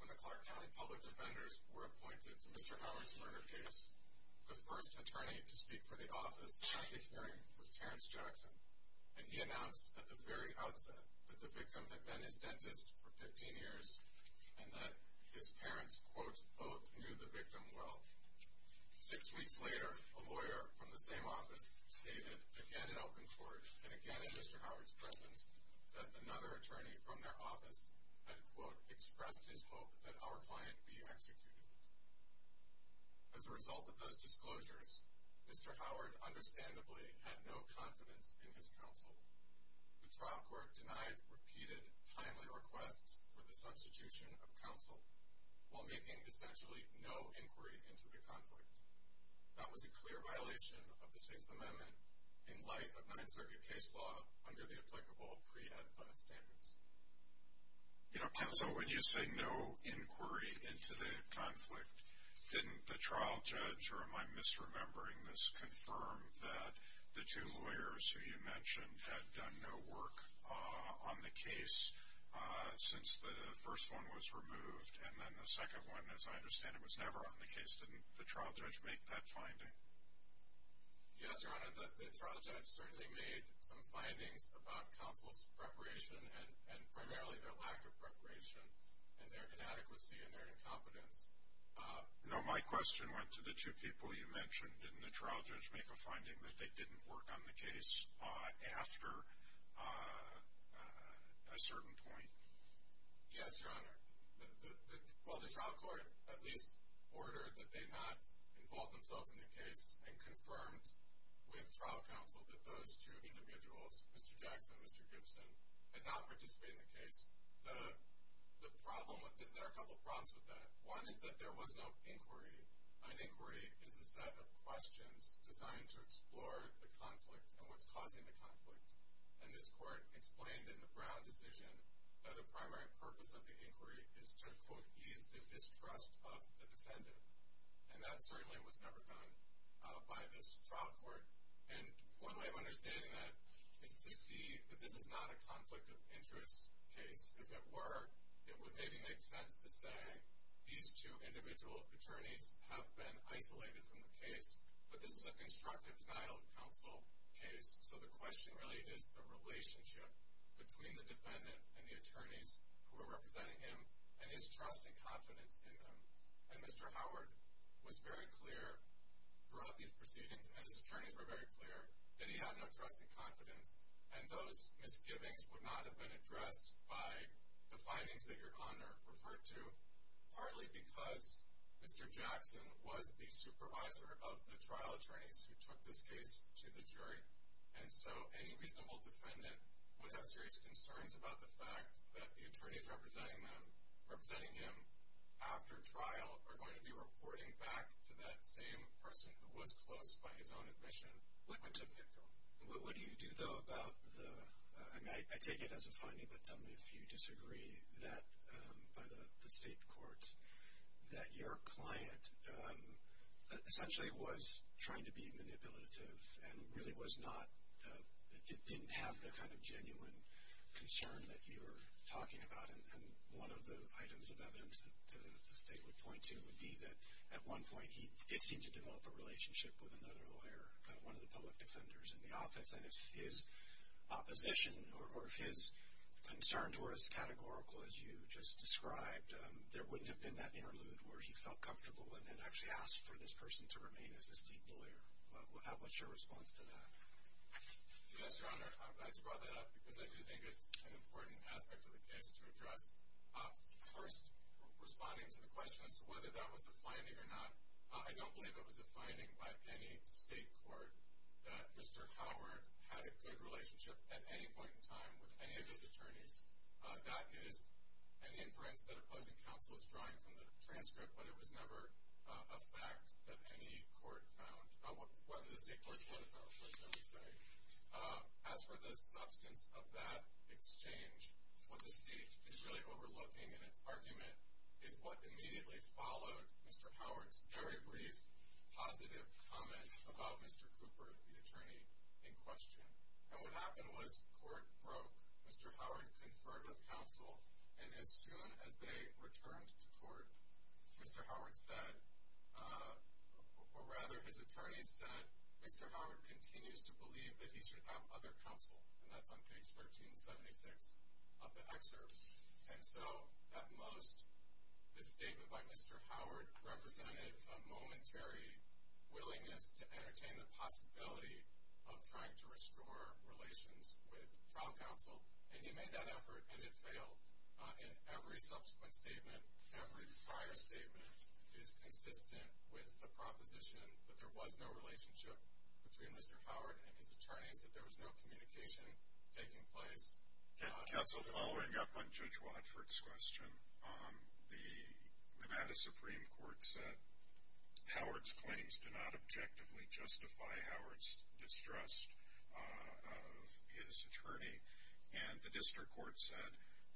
When the Clark County Public Defenders were appointed to Mr. Howard's murder case, the first attorney to speak for the office at the hearing was Terrence Jackson, and he announced at the very outset that the victim had been his dentist for 15 years and that his parents both knew the victim well. Six weeks later, a lawyer from the same office stated, again in open court and again in Mr. Howard's presence, that another attorney from their office had expressed his hope that our client be executed. As a result of those disclosures, Mr. Howard understandably had no confidence in his counsel. The trial court denied repeated, timely requests for the substitution of counsel while making essentially no inquiry into the conflict. That was a clear violation of the Sixth Amendment in light of Ninth Circuit case law under the applicable pre-ed plan standards. You know, counsel, when you say no inquiry into the conflict, didn't the trial judge, or am I misremembering this, confirm that the two lawyers who you mentioned had done no work on the case since the first one was removed? And then the second one, as I understand it, was never on the case. Didn't the trial judge make that finding? Yes, Your Honor, the trial judge certainly made some findings about counsel's preparation and primarily their lack of preparation and their inadequacy and their incompetence. No, my question went to the two people you mentioned. Didn't the trial judge make a finding that they didn't work on the case after a certain point? Yes, Your Honor. Well, the trial court at least ordered that they not involve themselves in the case and confirmed with trial counsel that those two individuals, Mr. Jackson and Mr. Gibson, had not participated in the case. There are a couple of problems with that. One is that there was no inquiry. An inquiry is a set of questions designed to explore the conflict and what's causing the conflict. And this court explained in the Brown decision that a primary purpose of the inquiry is to quote, ease the distrust of the defendant. And that certainly was never done by this trial court. And one way of understanding that is to see that this is not a conflict of interest case. If it were, it would maybe make sense to say these two individual attorneys have been isolated from the case. But this is a constructive denial of counsel case, so the question really is the relationship between the defendant and the attorneys who are representing him and his trust and confidence in them. And Mr. Howard was very clear throughout these proceedings, and his attorneys were very clear, that he had no trust and confidence and those misgivings would not have been addressed by the findings that Your Honor referred to, partly because Mr. Jackson was the supervisor of the trial attorneys who took this case to the jury. And so any reasonable defendant would have serious concerns about the fact that the attorneys representing him after trial are going to be reporting back to that same person who was close by his own admission. What would you think, Your Honor? What do you do, though, about the, I take it as a finding, but tell me if you disagree, that by the state courts, that your client essentially was trying to be manipulative and really was not, didn't have the kind of genuine concern that you were talking about. And one of the items of evidence that the state would point to would be that at one point he did seem to develop a relationship with another lawyer, one of the public defenders in the office, and if his opposition or if his concerns were as categorical as you just described, there wouldn't have been that interlude where he felt comfortable and then actually asked for this person to remain as a state lawyer. How about your response to that? Yes, Your Honor, I just brought that up because I do think it's an important aspect of the case to address. First, responding to the question as to whether that was a finding or not, I don't believe it was a finding by any state court that Mr. Howard had a good relationship at any point in time with any of his attorneys. That is an inference that opposing counsel is drawing from the transcript, but it was never a fact that any court found, whether the state courts were or not, that's what I'm saying. As for the substance of that exchange, what the state is really overlooking in its argument is what immediately followed Mr. Howard's very brief, positive comments about Mr. Cooper, the attorney in question, and what happened was court broke. Mr. Howard conferred with counsel, and as soon as they returned to court, Mr. Howard said, or rather his attorneys said, Mr. Howard continues to believe that he should have other counsel, and that's on page 1376 of the excerpt, and so at most this statement by Mr. Howard represented a momentary willingness to entertain the possibility of trying to restore relations with trial counsel, and he made that effort, and it failed. In every subsequent statement, every prior statement is consistent with the proposition that there was no relationship between Mr. Howard and his attorneys, that there was no The Nevada Supreme Court said Howard's claims do not objectively justify Howard's distrust of his attorney, and the district court said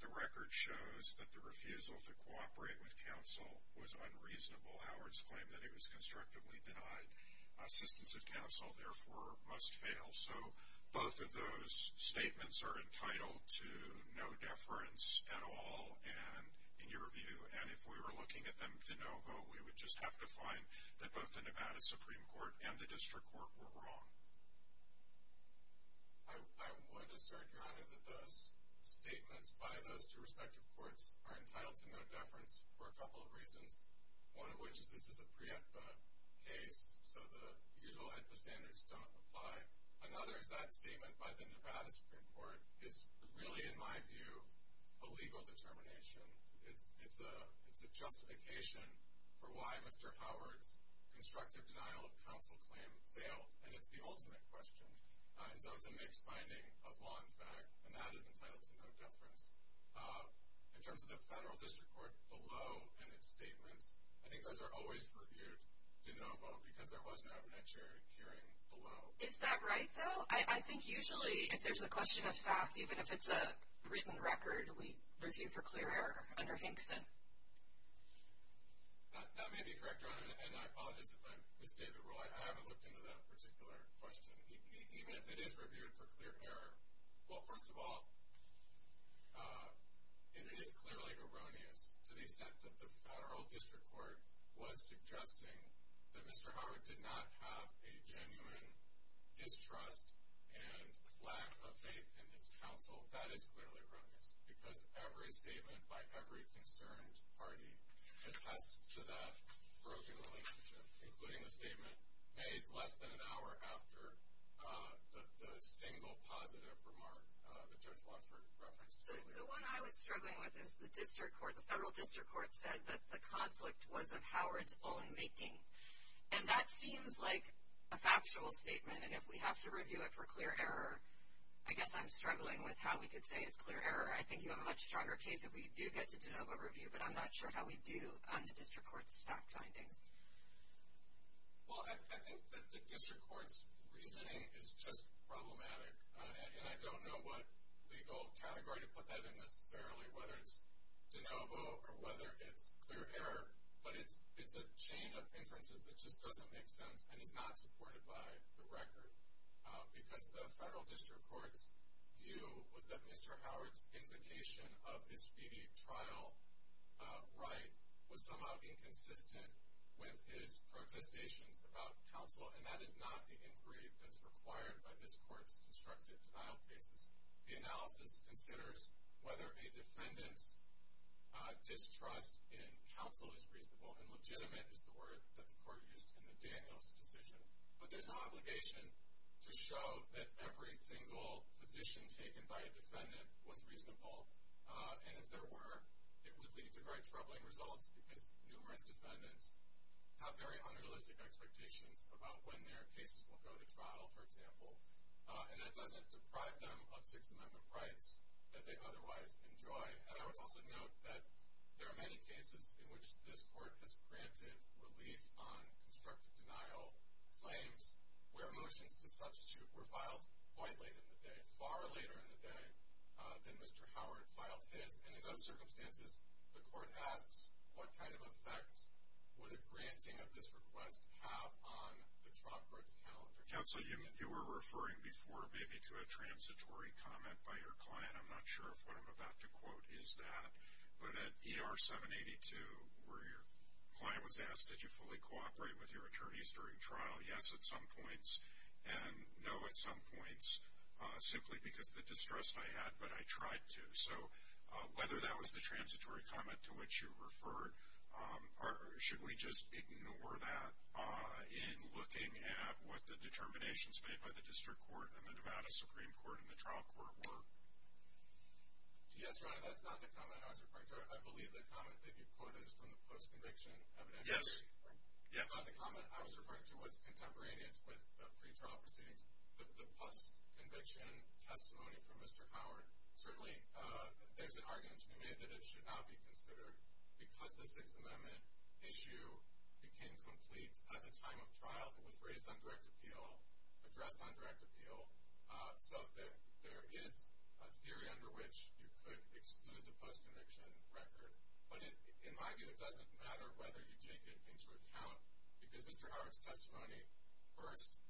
the record shows that the refusal to cooperate with counsel was unreasonable. Howard's claim that he was constructively denied assistance of counsel, therefore, must fail, so both of those statements are entitled to no deference at all, and in your view, and if we were looking at them de novo, we would just have to find that both the Nevada Supreme Court and the district court were wrong. I would assert, Your Honor, that those statements by those two respective courts are entitled to no deference for a couple of reasons, one of which is this is a PREEPA case, so the usual HIPAA standards don't apply. Another is that statement by the Nevada Supreme Court is really, in my view, a legal determination. It's a justification for why Mr. Howard's constructive denial of counsel claim failed, and it's the ultimate question, and so it's a mixed binding of law and fact, and that is entitled to no deference. In terms of the federal district court, the law and its statements, I think those are always reviewed de novo, because there was no evidentiary hearing below. Is that right, though? I think, usually, if there's a question of fact, even if it's a written record, we review for clear error under Hinkson. That may be correct, Your Honor, and I apologize if I misstated the rule. I haven't looked into that particular question. Even if it is reviewed for clear error, well, first of all, it is clearly erroneous to the extent that the federal district court was suggesting that Mr. Howard did not have a genuine distrust and lack of faith in his counsel. That is clearly erroneous, because every statement by every concerned party attests to that broken relationship, including the statement made less than an hour after the single positive remark that Judge Watford referenced earlier. The one I was struggling with is the district court, the federal district court said that the conflict was of Howard's own making, and that seems like a factual statement, and if we have to review it for clear error, I guess I'm struggling with how we could say it's clear error. I think you have a much stronger case if we do get to de novo review, but I'm not sure how we do on the district court's fact findings. Well, I think that the district court's reasoning is just problematic, and I don't know what is clear error, but it's a chain of inferences that just doesn't make sense and is not supported by the record, because the federal district court's view was that Mr. Howard's implication of his speedy trial right was somehow inconsistent with his protestations about counsel, and that is not the inquiry that's required by this court's constructive denial cases. The analysis considers whether a defendant's distrust in counsel is reasonable, and legitimate is the word that the court used in the Daniels decision, but there's no obligation to show that every single position taken by a defendant was reasonable, and if there were, it would lead to very troubling results, because numerous defendants have very unrealistic expectations about when their cases will go to trial, for example, and that doesn't deprive them of Sixth Amendment rights that they otherwise enjoy, and I would also note that there are many cases in which this court has granted relief on constructive denial claims where motions to substitute were filed quite late in the day, far later in the day than Mr. Howard filed his, and in those circumstances, the court asks what kind of effect would a defendant have on the trial court's calendar? Counsel, you were referring before, maybe, to a transitory comment by your client. I'm not sure if what I'm about to quote is that, but at ER 782, where your client was asked, did you fully cooperate with your attorneys during trial? Yes, at some points, and no, at some points, simply because of the distrust I had, but I tried to, so whether that was the transitory comment to which you referred, or should we just ignore that in looking at what the determinations made by the District Court and the Nevada Supreme Court and the trial court were? Yes, Your Honor, that's not the comment I was referring to. I believe the comment that you quoted is from the post-conviction evidence. Yes. Yeah. That's not the comment I was referring to. What's contemporaneous with pretrial proceedings, the post-conviction testimony from Mr. Howard, certainly, there's an argument to be made that it should not be considered because the testimony became complete at the time of trial. It was raised on direct appeal, addressed on direct appeal, so that there is a theory under which you could exclude the post-conviction record, but in my view, it doesn't matter whether you take it into account because Mr. Howard's testimony, first,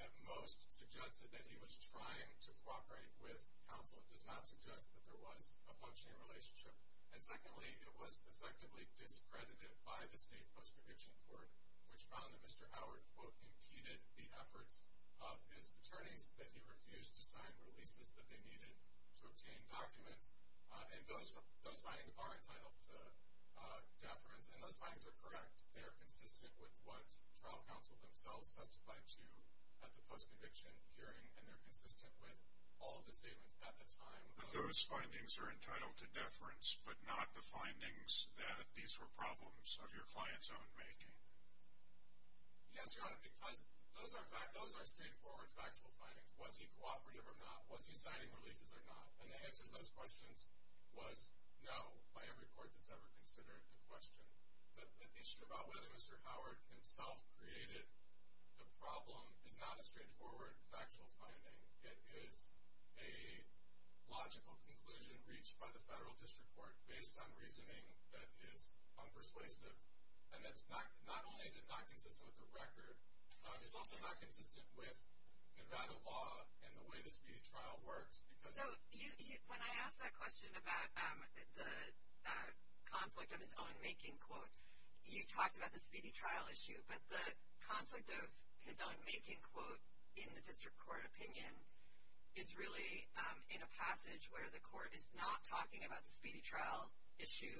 at most, suggested that he was trying to cooperate with counsel. It does not suggest that there was a functioning relationship, and secondly, it was effectively discredited by the state post-conviction court, which found that Mr. Howard, quote, impeded the efforts of his attorneys, that he refused to sign releases that they needed to obtain documents, and those findings are entitled to deference, and those findings are correct. They are consistent with what trial counsel themselves testified to at the post-conviction hearing, and they're consistent with all of the statements at the time. Those findings are entitled to deference, but not the findings that these were problems of your client's own making. Yes, Your Honor, because those are straightforward factual findings. Was he cooperative or not? Was he signing releases or not? And the answer to those questions was no, by every court that's ever considered the question. The issue about whether Mr. Howard himself created the problem is not a straightforward factual finding. It is a logical conclusion reached by the federal district court based on reasoning that is unpersuasive, and not only is it not consistent with the record, but it's also not consistent with Nevada law and the way the Speedy Trial works. So, when I asked that question about the conflict of his own making, quote, you talked about the Speedy Trial issue, but the conflict of his own making, quote, in the district court opinion is really in a passage where the court is not talking about the Speedy Trial issue,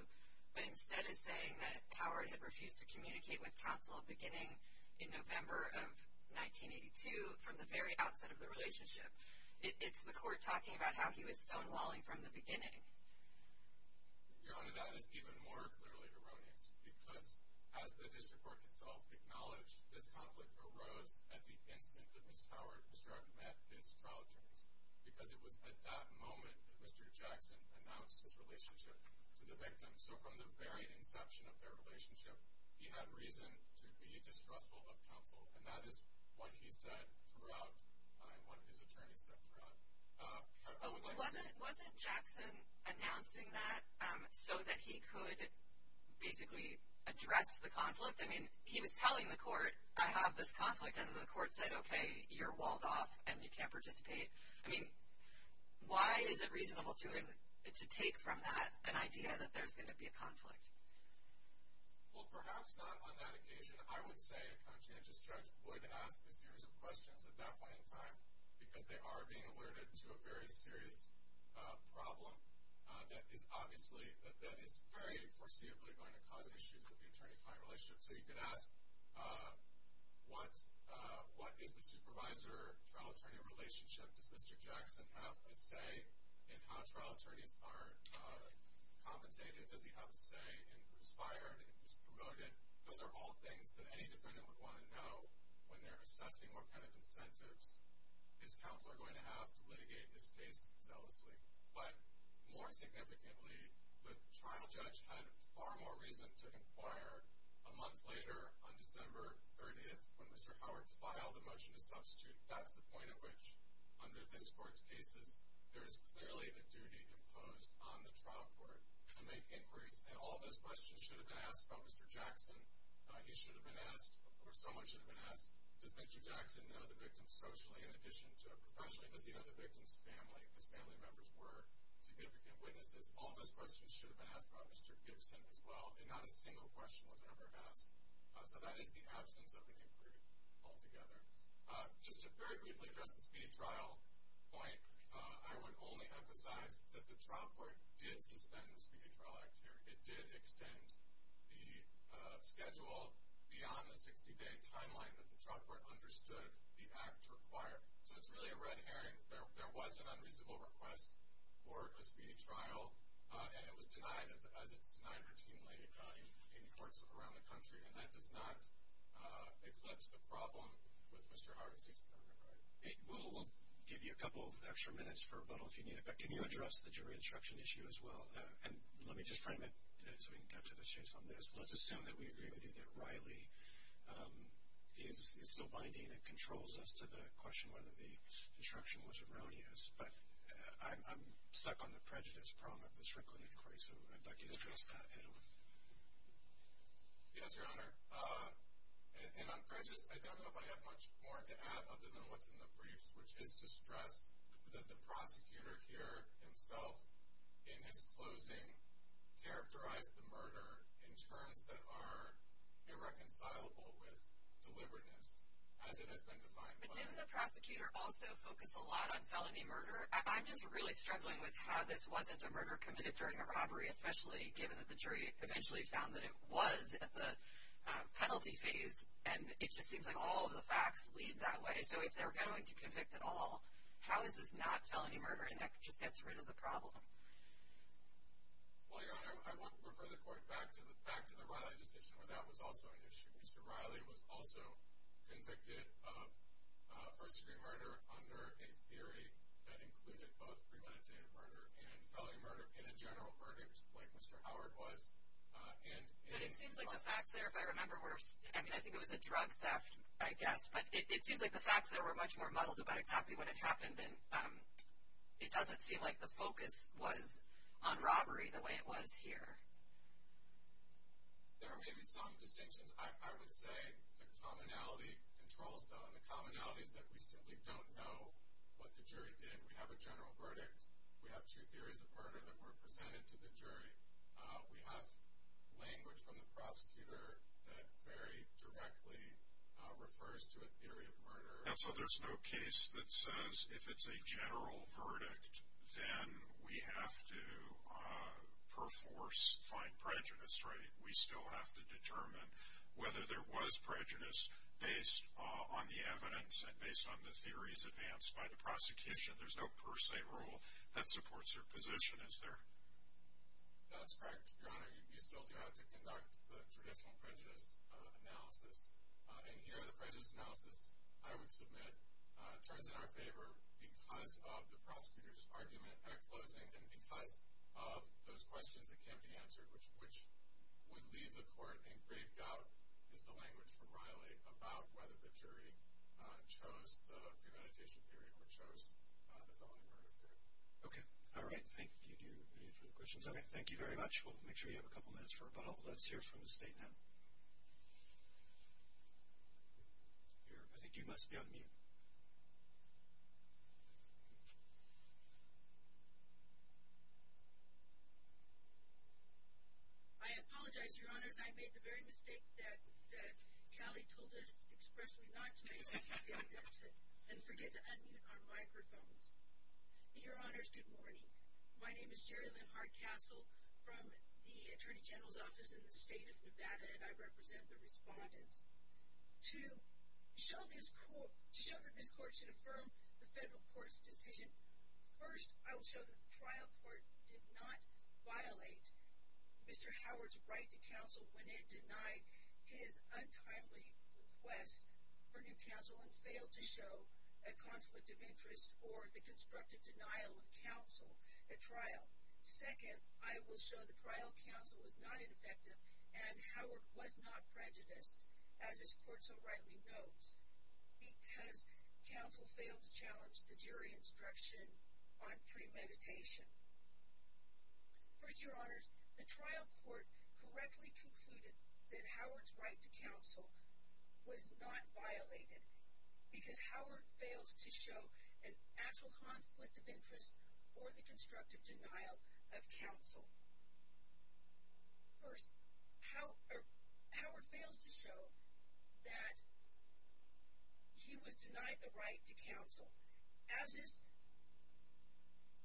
but instead is saying that Howard had refused to communicate with counsel beginning in November of 1982 from the very outset of the relationship. It's the court talking about how he was stonewalling from the beginning. Your honor, that is even more clearly erroneous, because as the district court itself acknowledged, this conflict arose at the instant that Ms. Howard, Mr. Howard met his trial attorneys, because it was at that moment that Mr. Jackson announced his relationship to the victim. So, from the very inception of their relationship, he had reason to be distrustful of counsel, and that is what he said throughout, what his attorneys said throughout. Wasn't Jackson announcing that so that he could basically address the conflict? I mean, he was telling the court, I have this conflict, and the court said, okay, you're walled off and you can't participate. I mean, why is it reasonable to him to take from that an idea that there's going to be a conflict? Well, perhaps not on that occasion. I would say a conscientious judge would ask a series of questions at that point in time, because they are being alerted to a very serious problem that is obviously, that is very foreseeably going to cause issues with the attorney-client relationship. So you could ask, what is the supervisor-trial attorney relationship? Does Mr. Jackson have a say in how trial attorneys are compensated? Does he have a say in who's fired and who's promoted? Those are all things that any defendant would want to know when they're assessing what kind of incentives his counsel are going to have to litigate this case zealously. But more significantly, the trial judge had far more reason to inquire a month later, on December 30th, when Mr. Howard filed a motion to substitute. That's the point at which, under this Court's cases, there is clearly a duty imposed on the trial court to make inquiries. And all those questions should have been asked about Mr. Jackson. He should have been asked, or someone should have been asked, does Mr. Jackson know the victim socially in addition to professionally? Does he know the victim's family, because family members were significant witnesses? All those questions should have been asked about Mr. Gibson as well, and not a single question was ever asked. So that is the absence of an inquiry altogether. Just to very briefly address the speedy trial point, I would only emphasize that the trial court did suspend the speedy trial act here. It did extend the schedule beyond the 60-day timeline that the trial court understood the act required. So it's really a red herring. There was an unreasonable request for a speedy trial, and it was denied as it's denied routinely in courts around the country. And that does not eclipse the problem with Mr. Howard's case. We'll give you a couple of extra minutes for rebuttal if you need it, but can you address the jury instruction issue as well? And let me just frame it so we can capture the chase on this. Let's assume that we agree with you that Riley is still binding and controls as to the question whether the instruction was erroneous. But I'm stuck on the prejudice problem of the Strickland inquiry, so I'd like you to address that, Adam. Yes, Your Honor. And on prejudice, I don't know if I have much more to add other than what's in the brief, which is to stress that the prosecutor here himself, in his closing, characterized the murder in terms that are irreconcilable with deliberateness, as it has been defined by the jury. But didn't the prosecutor also focus a lot on felony murder? I'm just really struggling with how this wasn't a murder committed during a robbery, especially given that the jury eventually found that it was at the penalty phase, and it just seems like all of the facts lead that way. So if they're going to convict at all, how is this not felony murder, and that just gets rid of the problem? Well, Your Honor, I would refer the Court back to the Riley decision, where that was also an issue. Mr. Riley was also convicted of first-degree murder under a theory that included both premeditated murder and felony murder in a general verdict, like Mr. Howard was. But it seems like the facts there, if I remember, I think it was a drug theft, I guess, but it seems like the facts there were much more muddled about exactly what had happened, and it doesn't seem like the focus was on robbery the way it was here. There may be some distinctions. I would say the commonality controls, though, and the commonality is that we simply don't know what the jury did. We have a general verdict. We have two theories of murder that were presented to the jury. We have language from the prosecutor that very directly refers to a theory of murder. And so there's no case that says if it's a general verdict, then we have to, per force, find prejudice, right? We still have to determine whether there was prejudice based on the evidence and based on the theories advanced by the prosecution. There's no per se rule that supports your position, is there? That's correct, Your Honor. You still do have to conduct the traditional prejudice analysis. And here the prejudice analysis, I would submit, turns in our favor because of the prosecutor's argument at closing and because of those questions that can't be answered, which would leave the court in grave doubt is the language from Riley about whether the jury chose the premeditation theory or chose the felony murder theory. Okay. All right. Thank you. Do you have any further questions? Okay. Thank you very much. We'll make sure you have a couple minutes for rebuttal. Let's hear from the State now. I think you must be on mute. I apologize, Your Honors. I made the very mistake that Callie told us expressly not to make, and forget to unmute our microphones. Your Honors, good morning. My name is Jerry Linhart Castle from the Attorney General's Office in the State of Nevada, and I represent the respondents. To show that this court should affirm the federal court's decision, first I will show that the trial court did not violate Mr. Howard's right to counsel when it denied his untimely request for new counsel and failed to show a conflict of interest or the constructive denial of counsel at trial. Second, I will show the trial counsel was not ineffective and Howard was not prejudiced, as this court so rightly notes, because counsel failed to challenge the jury instruction on premeditation. First, Your Honors, the trial court correctly concluded that Howard's right to counsel was not violated. Because Howard fails to show an actual conflict of interest or the constructive denial of counsel. First, Howard fails to show that he was denied the right to counsel. As this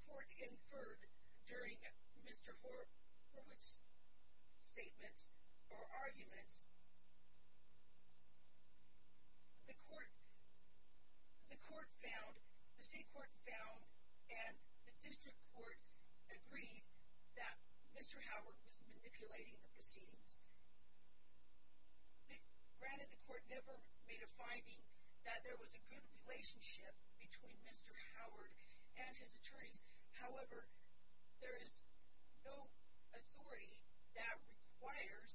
court inferred during Mr. Horowitz's statements or arguments, the state court found and the district court agreed that Mr. Howard was manipulating the proceedings. Granted, the court never made a finding that there was a good relationship between Mr. Howard and his attorneys. However, there is no authority that requires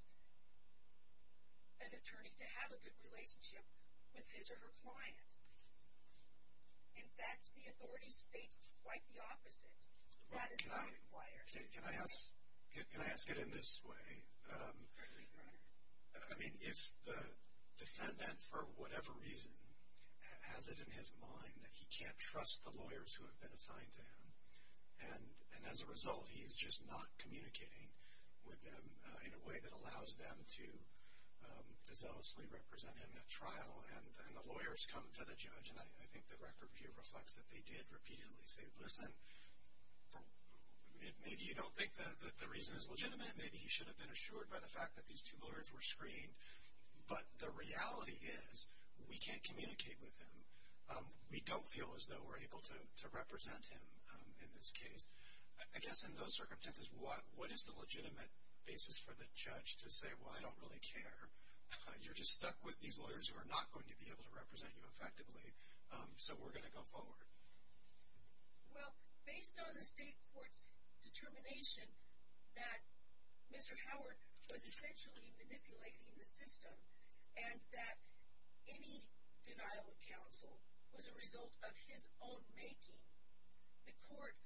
an attorney to have a good relationship with his or her client. In fact, the authority states quite the opposite. That is not required. Can I ask it in this way? I mean, if the defendant, for whatever reason, has it in his mind that he can't trust the lawyers who have been assigned to him, and as a result, he's just not communicating with them in a way that allows them to zealously represent him at trial, and the lawyers come to the judge, and I think the record here reflects that they did repeatedly say, well, listen, maybe you don't think that the reason is legitimate. Maybe he should have been assured by the fact that these two lawyers were screened. But the reality is we can't communicate with him. We don't feel as though we're able to represent him in this case. I guess in those circumstances, what is the legitimate basis for the judge to say, well, I don't really care. You're just stuck with these lawyers who are not going to be able to represent you effectively, so we're going to go forward. Well, based on the state court's determination that Mr. Howard was essentially manipulating the system and that any denial of counsel was a result of his own making, the court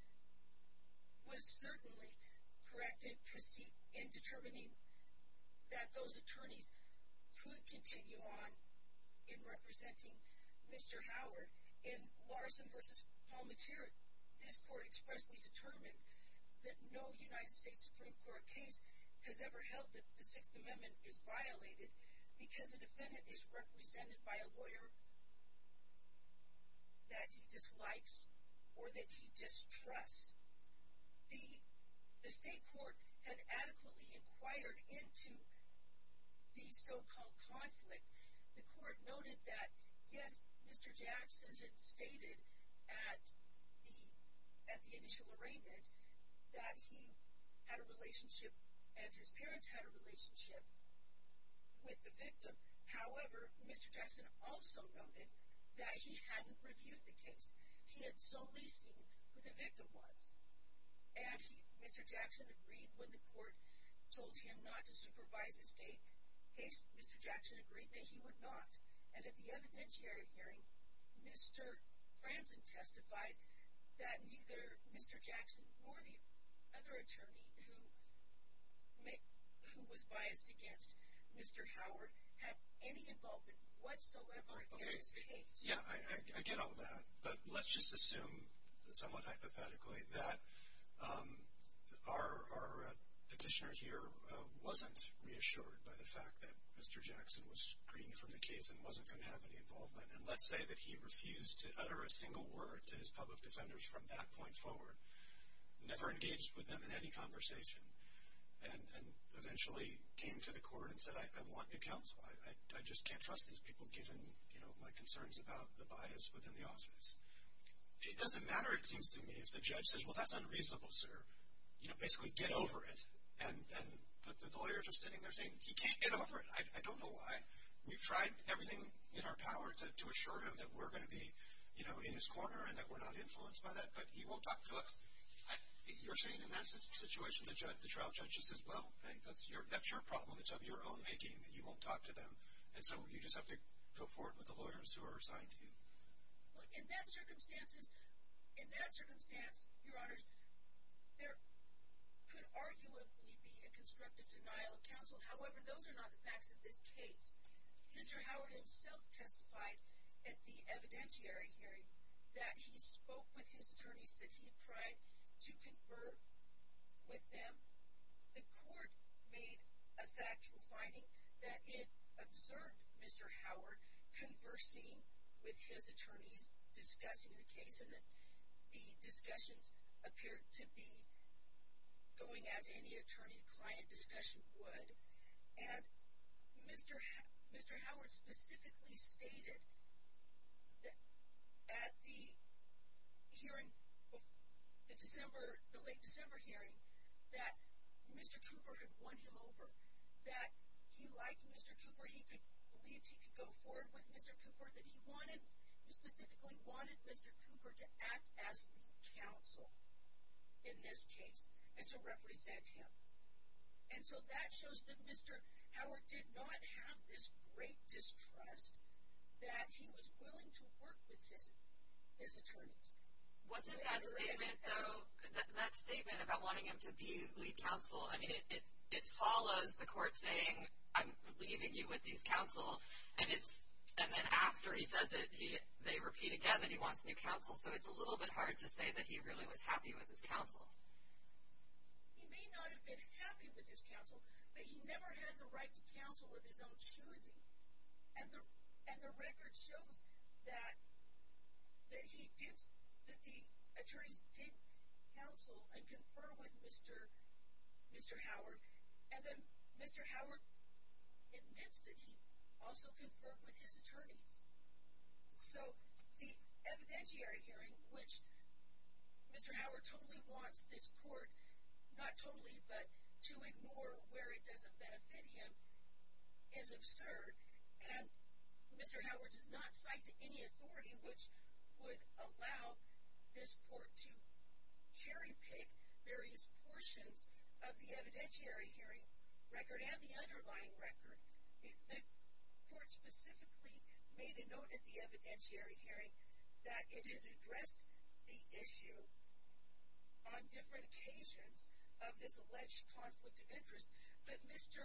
was certainly correct in determining that those attorneys could continue on in representing Mr. Howard. In Larson v. Palmatier, this court expressly determined that no United States Supreme Court case has ever held that the Sixth Amendment is violated because a defendant is represented by a lawyer that he dislikes or that he distrusts. The state court had adequately inquired into the so-called conflict. The court noted that, yes, Mr. Jackson had stated at the initial arraignment that he had a relationship and his parents had a relationship with the victim. However, Mr. Jackson also noted that he hadn't reviewed the case. He had solely seen who the victim was. And Mr. Jackson agreed when the court told him not to supervise his case. Mr. Jackson agreed that he would not. And at the evidentiary hearing, Mr. Franzen testified that neither Mr. Jackson nor the other attorney who was biased against Mr. Howard had any involvement whatsoever in his case. Yeah, I get all that. But let's just assume, somewhat hypothetically, that our petitioner here wasn't reassured by the fact that Mr. Jackson was green from the case and wasn't going to have any involvement. And let's say that he refused to utter a single word to his public defenders from that point forward, never engaged with them in any conversation, and eventually came to the court and said, I want to counsel. I just can't trust these people given, you know, my concerns about the bias within the office. It doesn't matter, it seems to me, if the judge says, well, that's unreasonable, sir. You know, basically get over it. And the lawyers are sitting there saying, he can't get over it. I don't know why. We've tried everything in our power to assure him that we're going to be, you know, in his corner and that we're not influenced by that, but he won't talk to us. You're saying in that situation the trial judge just says, well, that's your problem. It's of your own making that you won't talk to them. And so you just have to go forward with the lawyers who are assigned to you. In that circumstance, Your Honors, there could arguably be a constructive denial of counsel. However, those are not the facts of this case. Mr. Howard himself testified at the evidentiary hearing that he spoke with his attorneys, that he tried to confer with them. The court made a factual finding that it observed Mr. Howard conversing with his attorneys discussing the case, and that the discussions appeared to be going as any attorney-client discussion would. And Mr. Howard specifically stated at the hearing, the late December hearing, that Mr. Cooper had won him over, that he liked Mr. Cooper, he believed he could go forward with Mr. Cooper, that he specifically wanted Mr. Cooper to act as lead counsel in this case and to represent him. And so that shows that Mr. Howard did not have this great distrust that he was willing to work with his attorneys. Wasn't that statement, though, that statement about wanting him to be lead counsel, I mean, it follows the court saying, I'm leaving you with these counsel, and then after he says it, they repeat again that he wants new counsel, so it's a little bit hard to say that he really was happy with his counsel. He may not have been happy with his counsel, but he never had the right to counsel with his own choosing. And the record shows that the attorneys did counsel and confer with Mr. Howard, and then Mr. Howard admits that he also conferred with his attorneys. So the evidentiary hearing, which Mr. Howard totally wants this court, not totally, but to ignore where it doesn't benefit him, is absurd, and Mr. Howard does not cite any authority which would allow this court to cherry-pick various portions of the evidentiary hearing record and the underlying record. The court specifically made a note at the evidentiary hearing that it had addressed the issue on different occasions of this alleged conflict of interest, but Mr.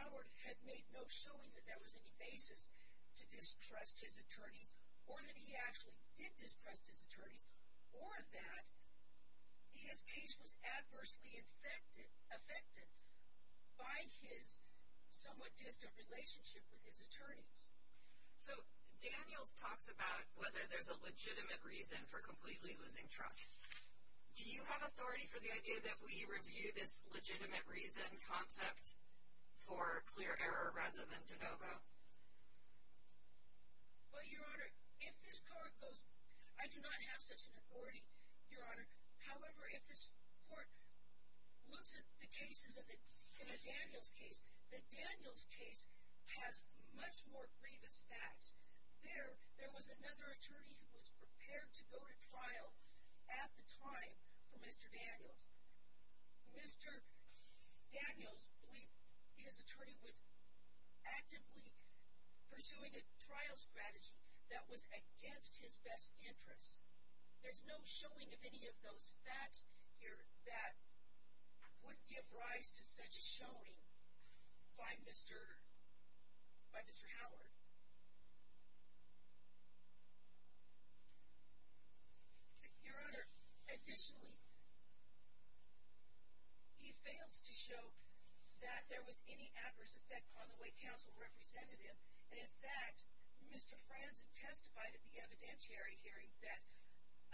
Howard had made no showing that there was any basis to distrust his attorneys, or that he actually did distrust his attorneys, or that his case was adversely affected by his somewhat distant relationship with his attorneys. So Daniels talks about whether there's a legitimate reason for completely losing trust. Do you have authority for the idea that we review this legitimate reason concept for clear error rather than de novo? Well, Your Honor, if this court goes, I do not have such an authority, Your Honor. However, if this court looks at the cases in the Daniels case, the Daniels case has much more grievous facts. There was another attorney who was prepared to go to trial at the time for Mr. Daniels. Mr. Daniels believed his attorney was actively pursuing a trial strategy that was against his best interests. There's no showing of any of those facts here that would give rise to such a showing by Mr. Howard. Your Honor, additionally, he failed to show that there was any adverse effect on the way counsel represented him. And in fact, Mr. Franzen testified at the evidentiary hearing that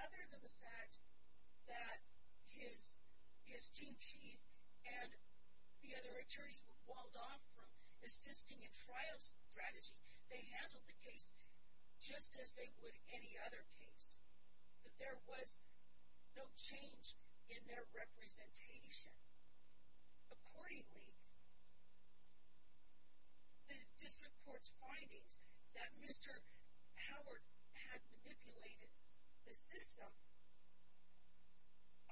other than the fact that his team chief and the other attorneys were walled off from assisting in trial strategy, they handled the case just as they would any other case. That there was no change in their representation. Accordingly, the district court's findings that Mr. Howard had manipulated the system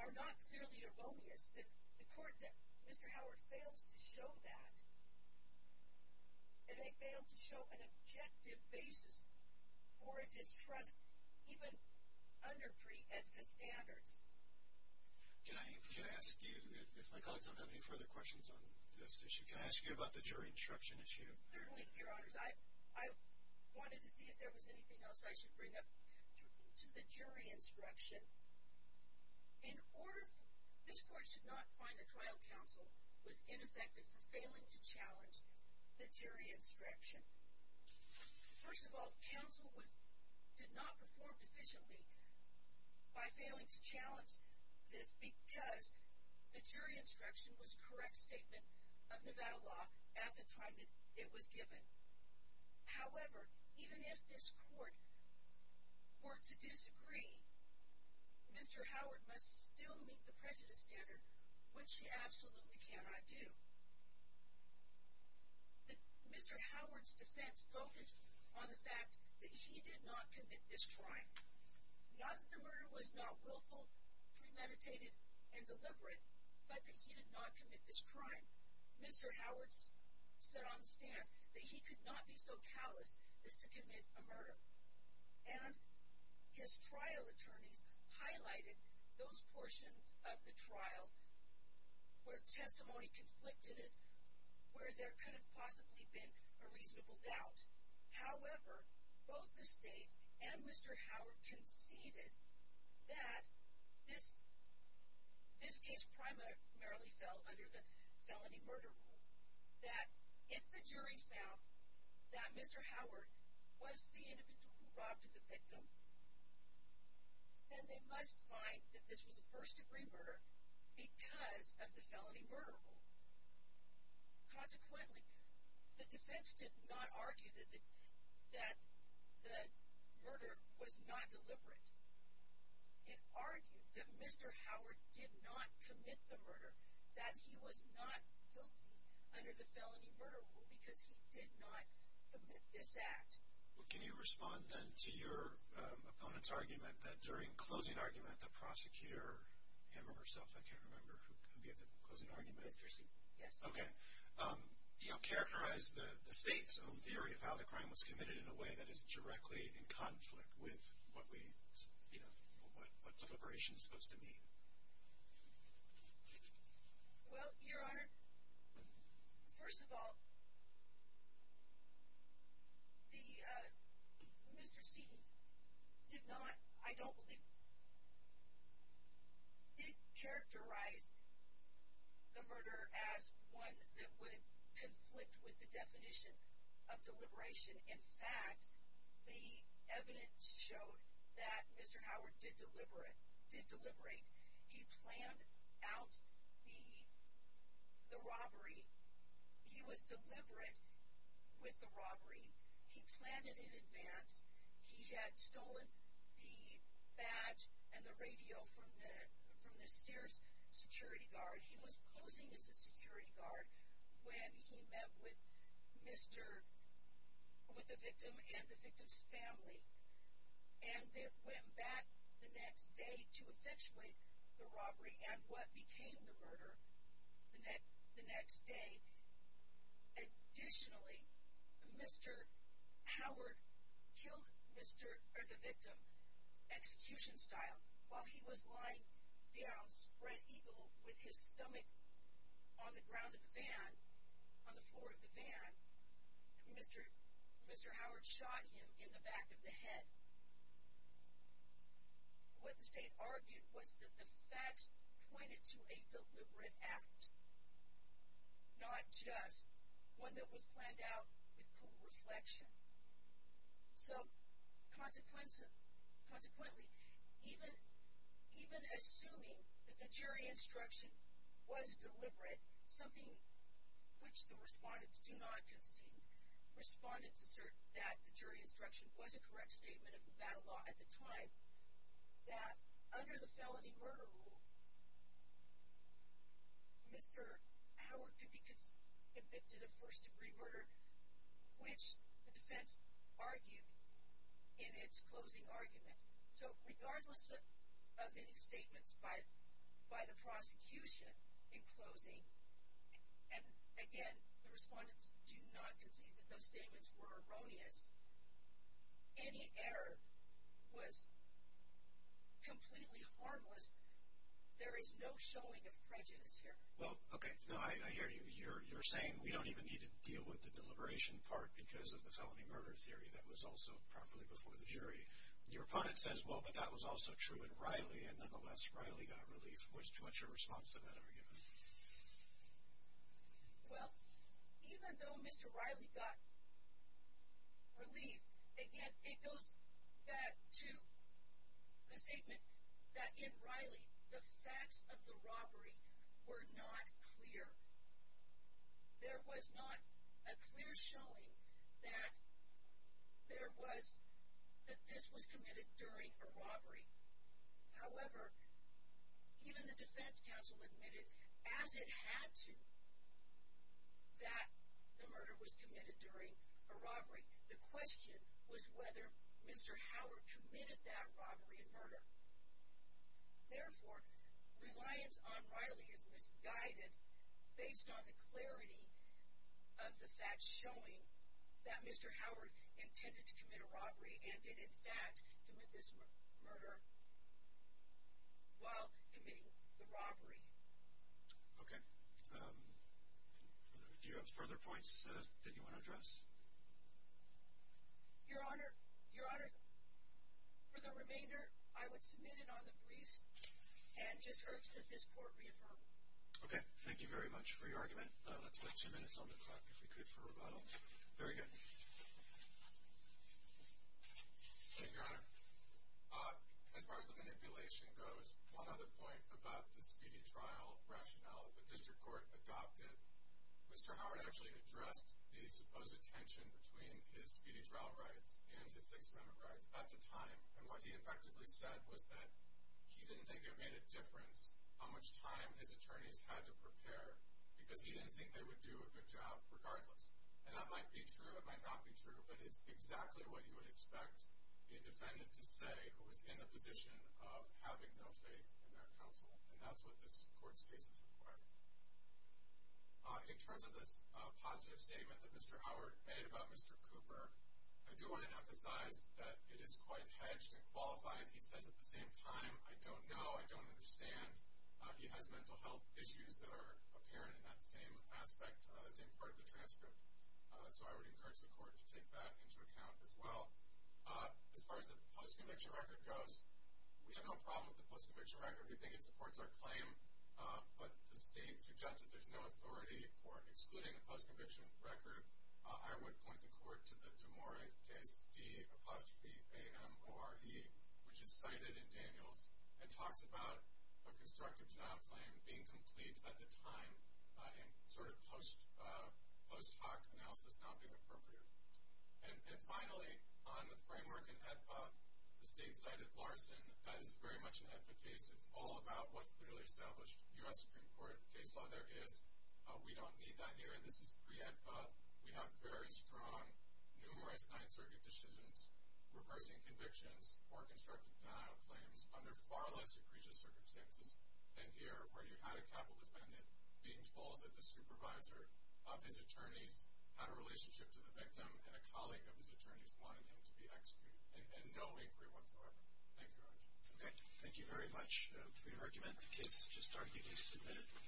are not fairly erroneous. The court, Mr. Howard fails to show that. And they fail to show an objective basis for a distrust, even under pre-EDFA standards. Can I ask you, if my colleagues don't have any further questions on this issue, can I ask you about the jury instruction issue? Certainly, Your Honors. I wanted to see if there was anything else I should bring up. To the jury instruction, in order for this court to not find the trial counsel was ineffective for failing to challenge the jury instruction. First of all, counsel did not perform efficiently by failing to challenge this because the jury instruction was a correct statement of Nevada law at the time it was given. However, even if this court were to disagree, Mr. Howard must still meet the prejudice standard, which he absolutely cannot do. Mr. Howard's defense focused on the fact that he did not commit this crime. Not that the murder was not willful, premeditated, and deliberate, but that he did not commit this crime. Mr. Howard stood on the stand that he could not be so callous as to commit a murder. And his trial attorneys highlighted those portions of the trial where testimony conflicted it, where there could have possibly been a reasonable doubt. However, both the State and Mr. Howard conceded that this case primarily fell under the felony murder rule. That if the jury found that Mr. Howard was the individual who robbed the victim, then they must find that this was a first degree murder because of the felony murder rule. Consequently, the defense did not argue that the murder was not deliberate. It argued that Mr. Howard did not commit the murder, that he was not guilty under the felony murder rule because he did not commit this act. Well, can you respond then to your opponent's argument that during closing argument, the prosecutor, him or herself, I can't remember who gave the closing argument. Mr. Seaton, yes. Okay. You know, characterize the State's own theory of how the crime was committed in a way that is directly in conflict with what we, you know, what deliberation is supposed to mean. Well, Your Honor, first of all, Mr. Seaton did not, I don't believe, did characterize the murder as one that would conflict with the definition of deliberation. In fact, the evidence showed that Mr. Howard did deliberate, did deliberate. He planned out the robbery. He was deliberate with the robbery. He planned it in advance. He had stolen the badge and the radio from the Sears security guard. He was posing as a security guard when he met with Mr., with the victim and the victim's family. And they went back the next day to effectuate the robbery and what became the murder the next day. Additionally, Mr. Howard killed Mr., or the victim, execution style, while he was lying down spread eagle with his stomach on the ground of the van, on the floor of the van. Mr. Howard shot him in the back of the head. What the state argued was that the facts pointed to a deliberate act, not just one that was planned out with cool reflection. So, consequently, even assuming that the jury instruction was deliberate, something which the respondents do not concede, respondents assert that the jury instruction was a correct statement of Nevada law at the time, that under the felony murder rule, Mr. Howard could be convicted of first-degree murder, which the defense argued in its closing argument. So, regardless of any statements by the prosecution in closing, and again, the respondents do not concede that those statements were erroneous, any error was completely harmless. There is no showing of prejudice here. Well, okay. I hear you. You're saying we don't even need to deal with the deliberation part because of the felony murder theory. That was also properly before the jury. Your opponent says, well, but that was also true in Riley, and nonetheless, Riley got relief. What's your response to that argument? Well, even though Mr. Riley got relief, again, it goes back to the statement that in Riley, the facts of the robbery were not clear. There was not a clear showing that this was committed during a robbery. However, even the defense counsel admitted, as it had to, that the murder was committed during a robbery. The question was whether Mr. Howard committed that robbery and murder. Therefore, reliance on Riley is misguided based on the clarity of the facts showing that Mr. Howard intended to commit a robbery and did, in fact, commit this murder while committing the robbery. Okay. Do you have further points that you want to address? Your Honor, for the remainder, I would submit it on the briefs and just urge that this court reaffirm. Okay. Thank you very much for your argument. Let's wait two minutes on the clock, if we could, for rebuttal. Very good. Thank you, Your Honor. As far as the manipulation goes, one other point about the speedy trial rationale that the district court adopted, Mr. Howard actually addressed the supposed tension between his speedy trial rights and his Sixth Amendment rights at the time, and what he effectively said was that he didn't think it made a difference how much time his attorneys had to prepare because he didn't think they would do a good job regardless. And that might be true, it might not be true, but it's exactly what you would expect a defendant to say who was in the position of having no faith in their counsel, and that's what this court's case is requiring. In terms of this positive statement that Mr. Howard made about Mr. Cooper, I do want to emphasize that it is quite hedged and qualified. He says at the same time, I don't know, I don't understand. He has mental health issues that are apparent in that same aspect, same part of the transcript. So I would encourage the court to take that into account as well. As far as the post-conviction record goes, we have no problem with the post-conviction record. We think it supports our claim, but the state suggests that there's no authority for excluding a post-conviction record. I would point the court to the DeMora case, D-apostrophe-A-M-O-R-E, which is cited in Daniels and talks about a constructive job claim being complete at the time and sort of post hoc analysis not being appropriate. And finally, on the framework in AEDPA, the state cited Larson. That is very much an AEDPA case. It's all about what clearly established U.S. Supreme Court case law there is. We don't need that here. This is pre-AEDPA. We have very strong, numerous Ninth Circuit decisions reversing convictions for constructive denial claims under far less egregious circumstances than here where you had a capital defendant being told that the supervisor of his attorneys had a relationship to the victim and a colleague of his attorneys wanted him to be executed. And no inquiry whatsoever. Thank you, Your Honor. Okay. Thank you very much. If we can recommend the case to start, you can submit it.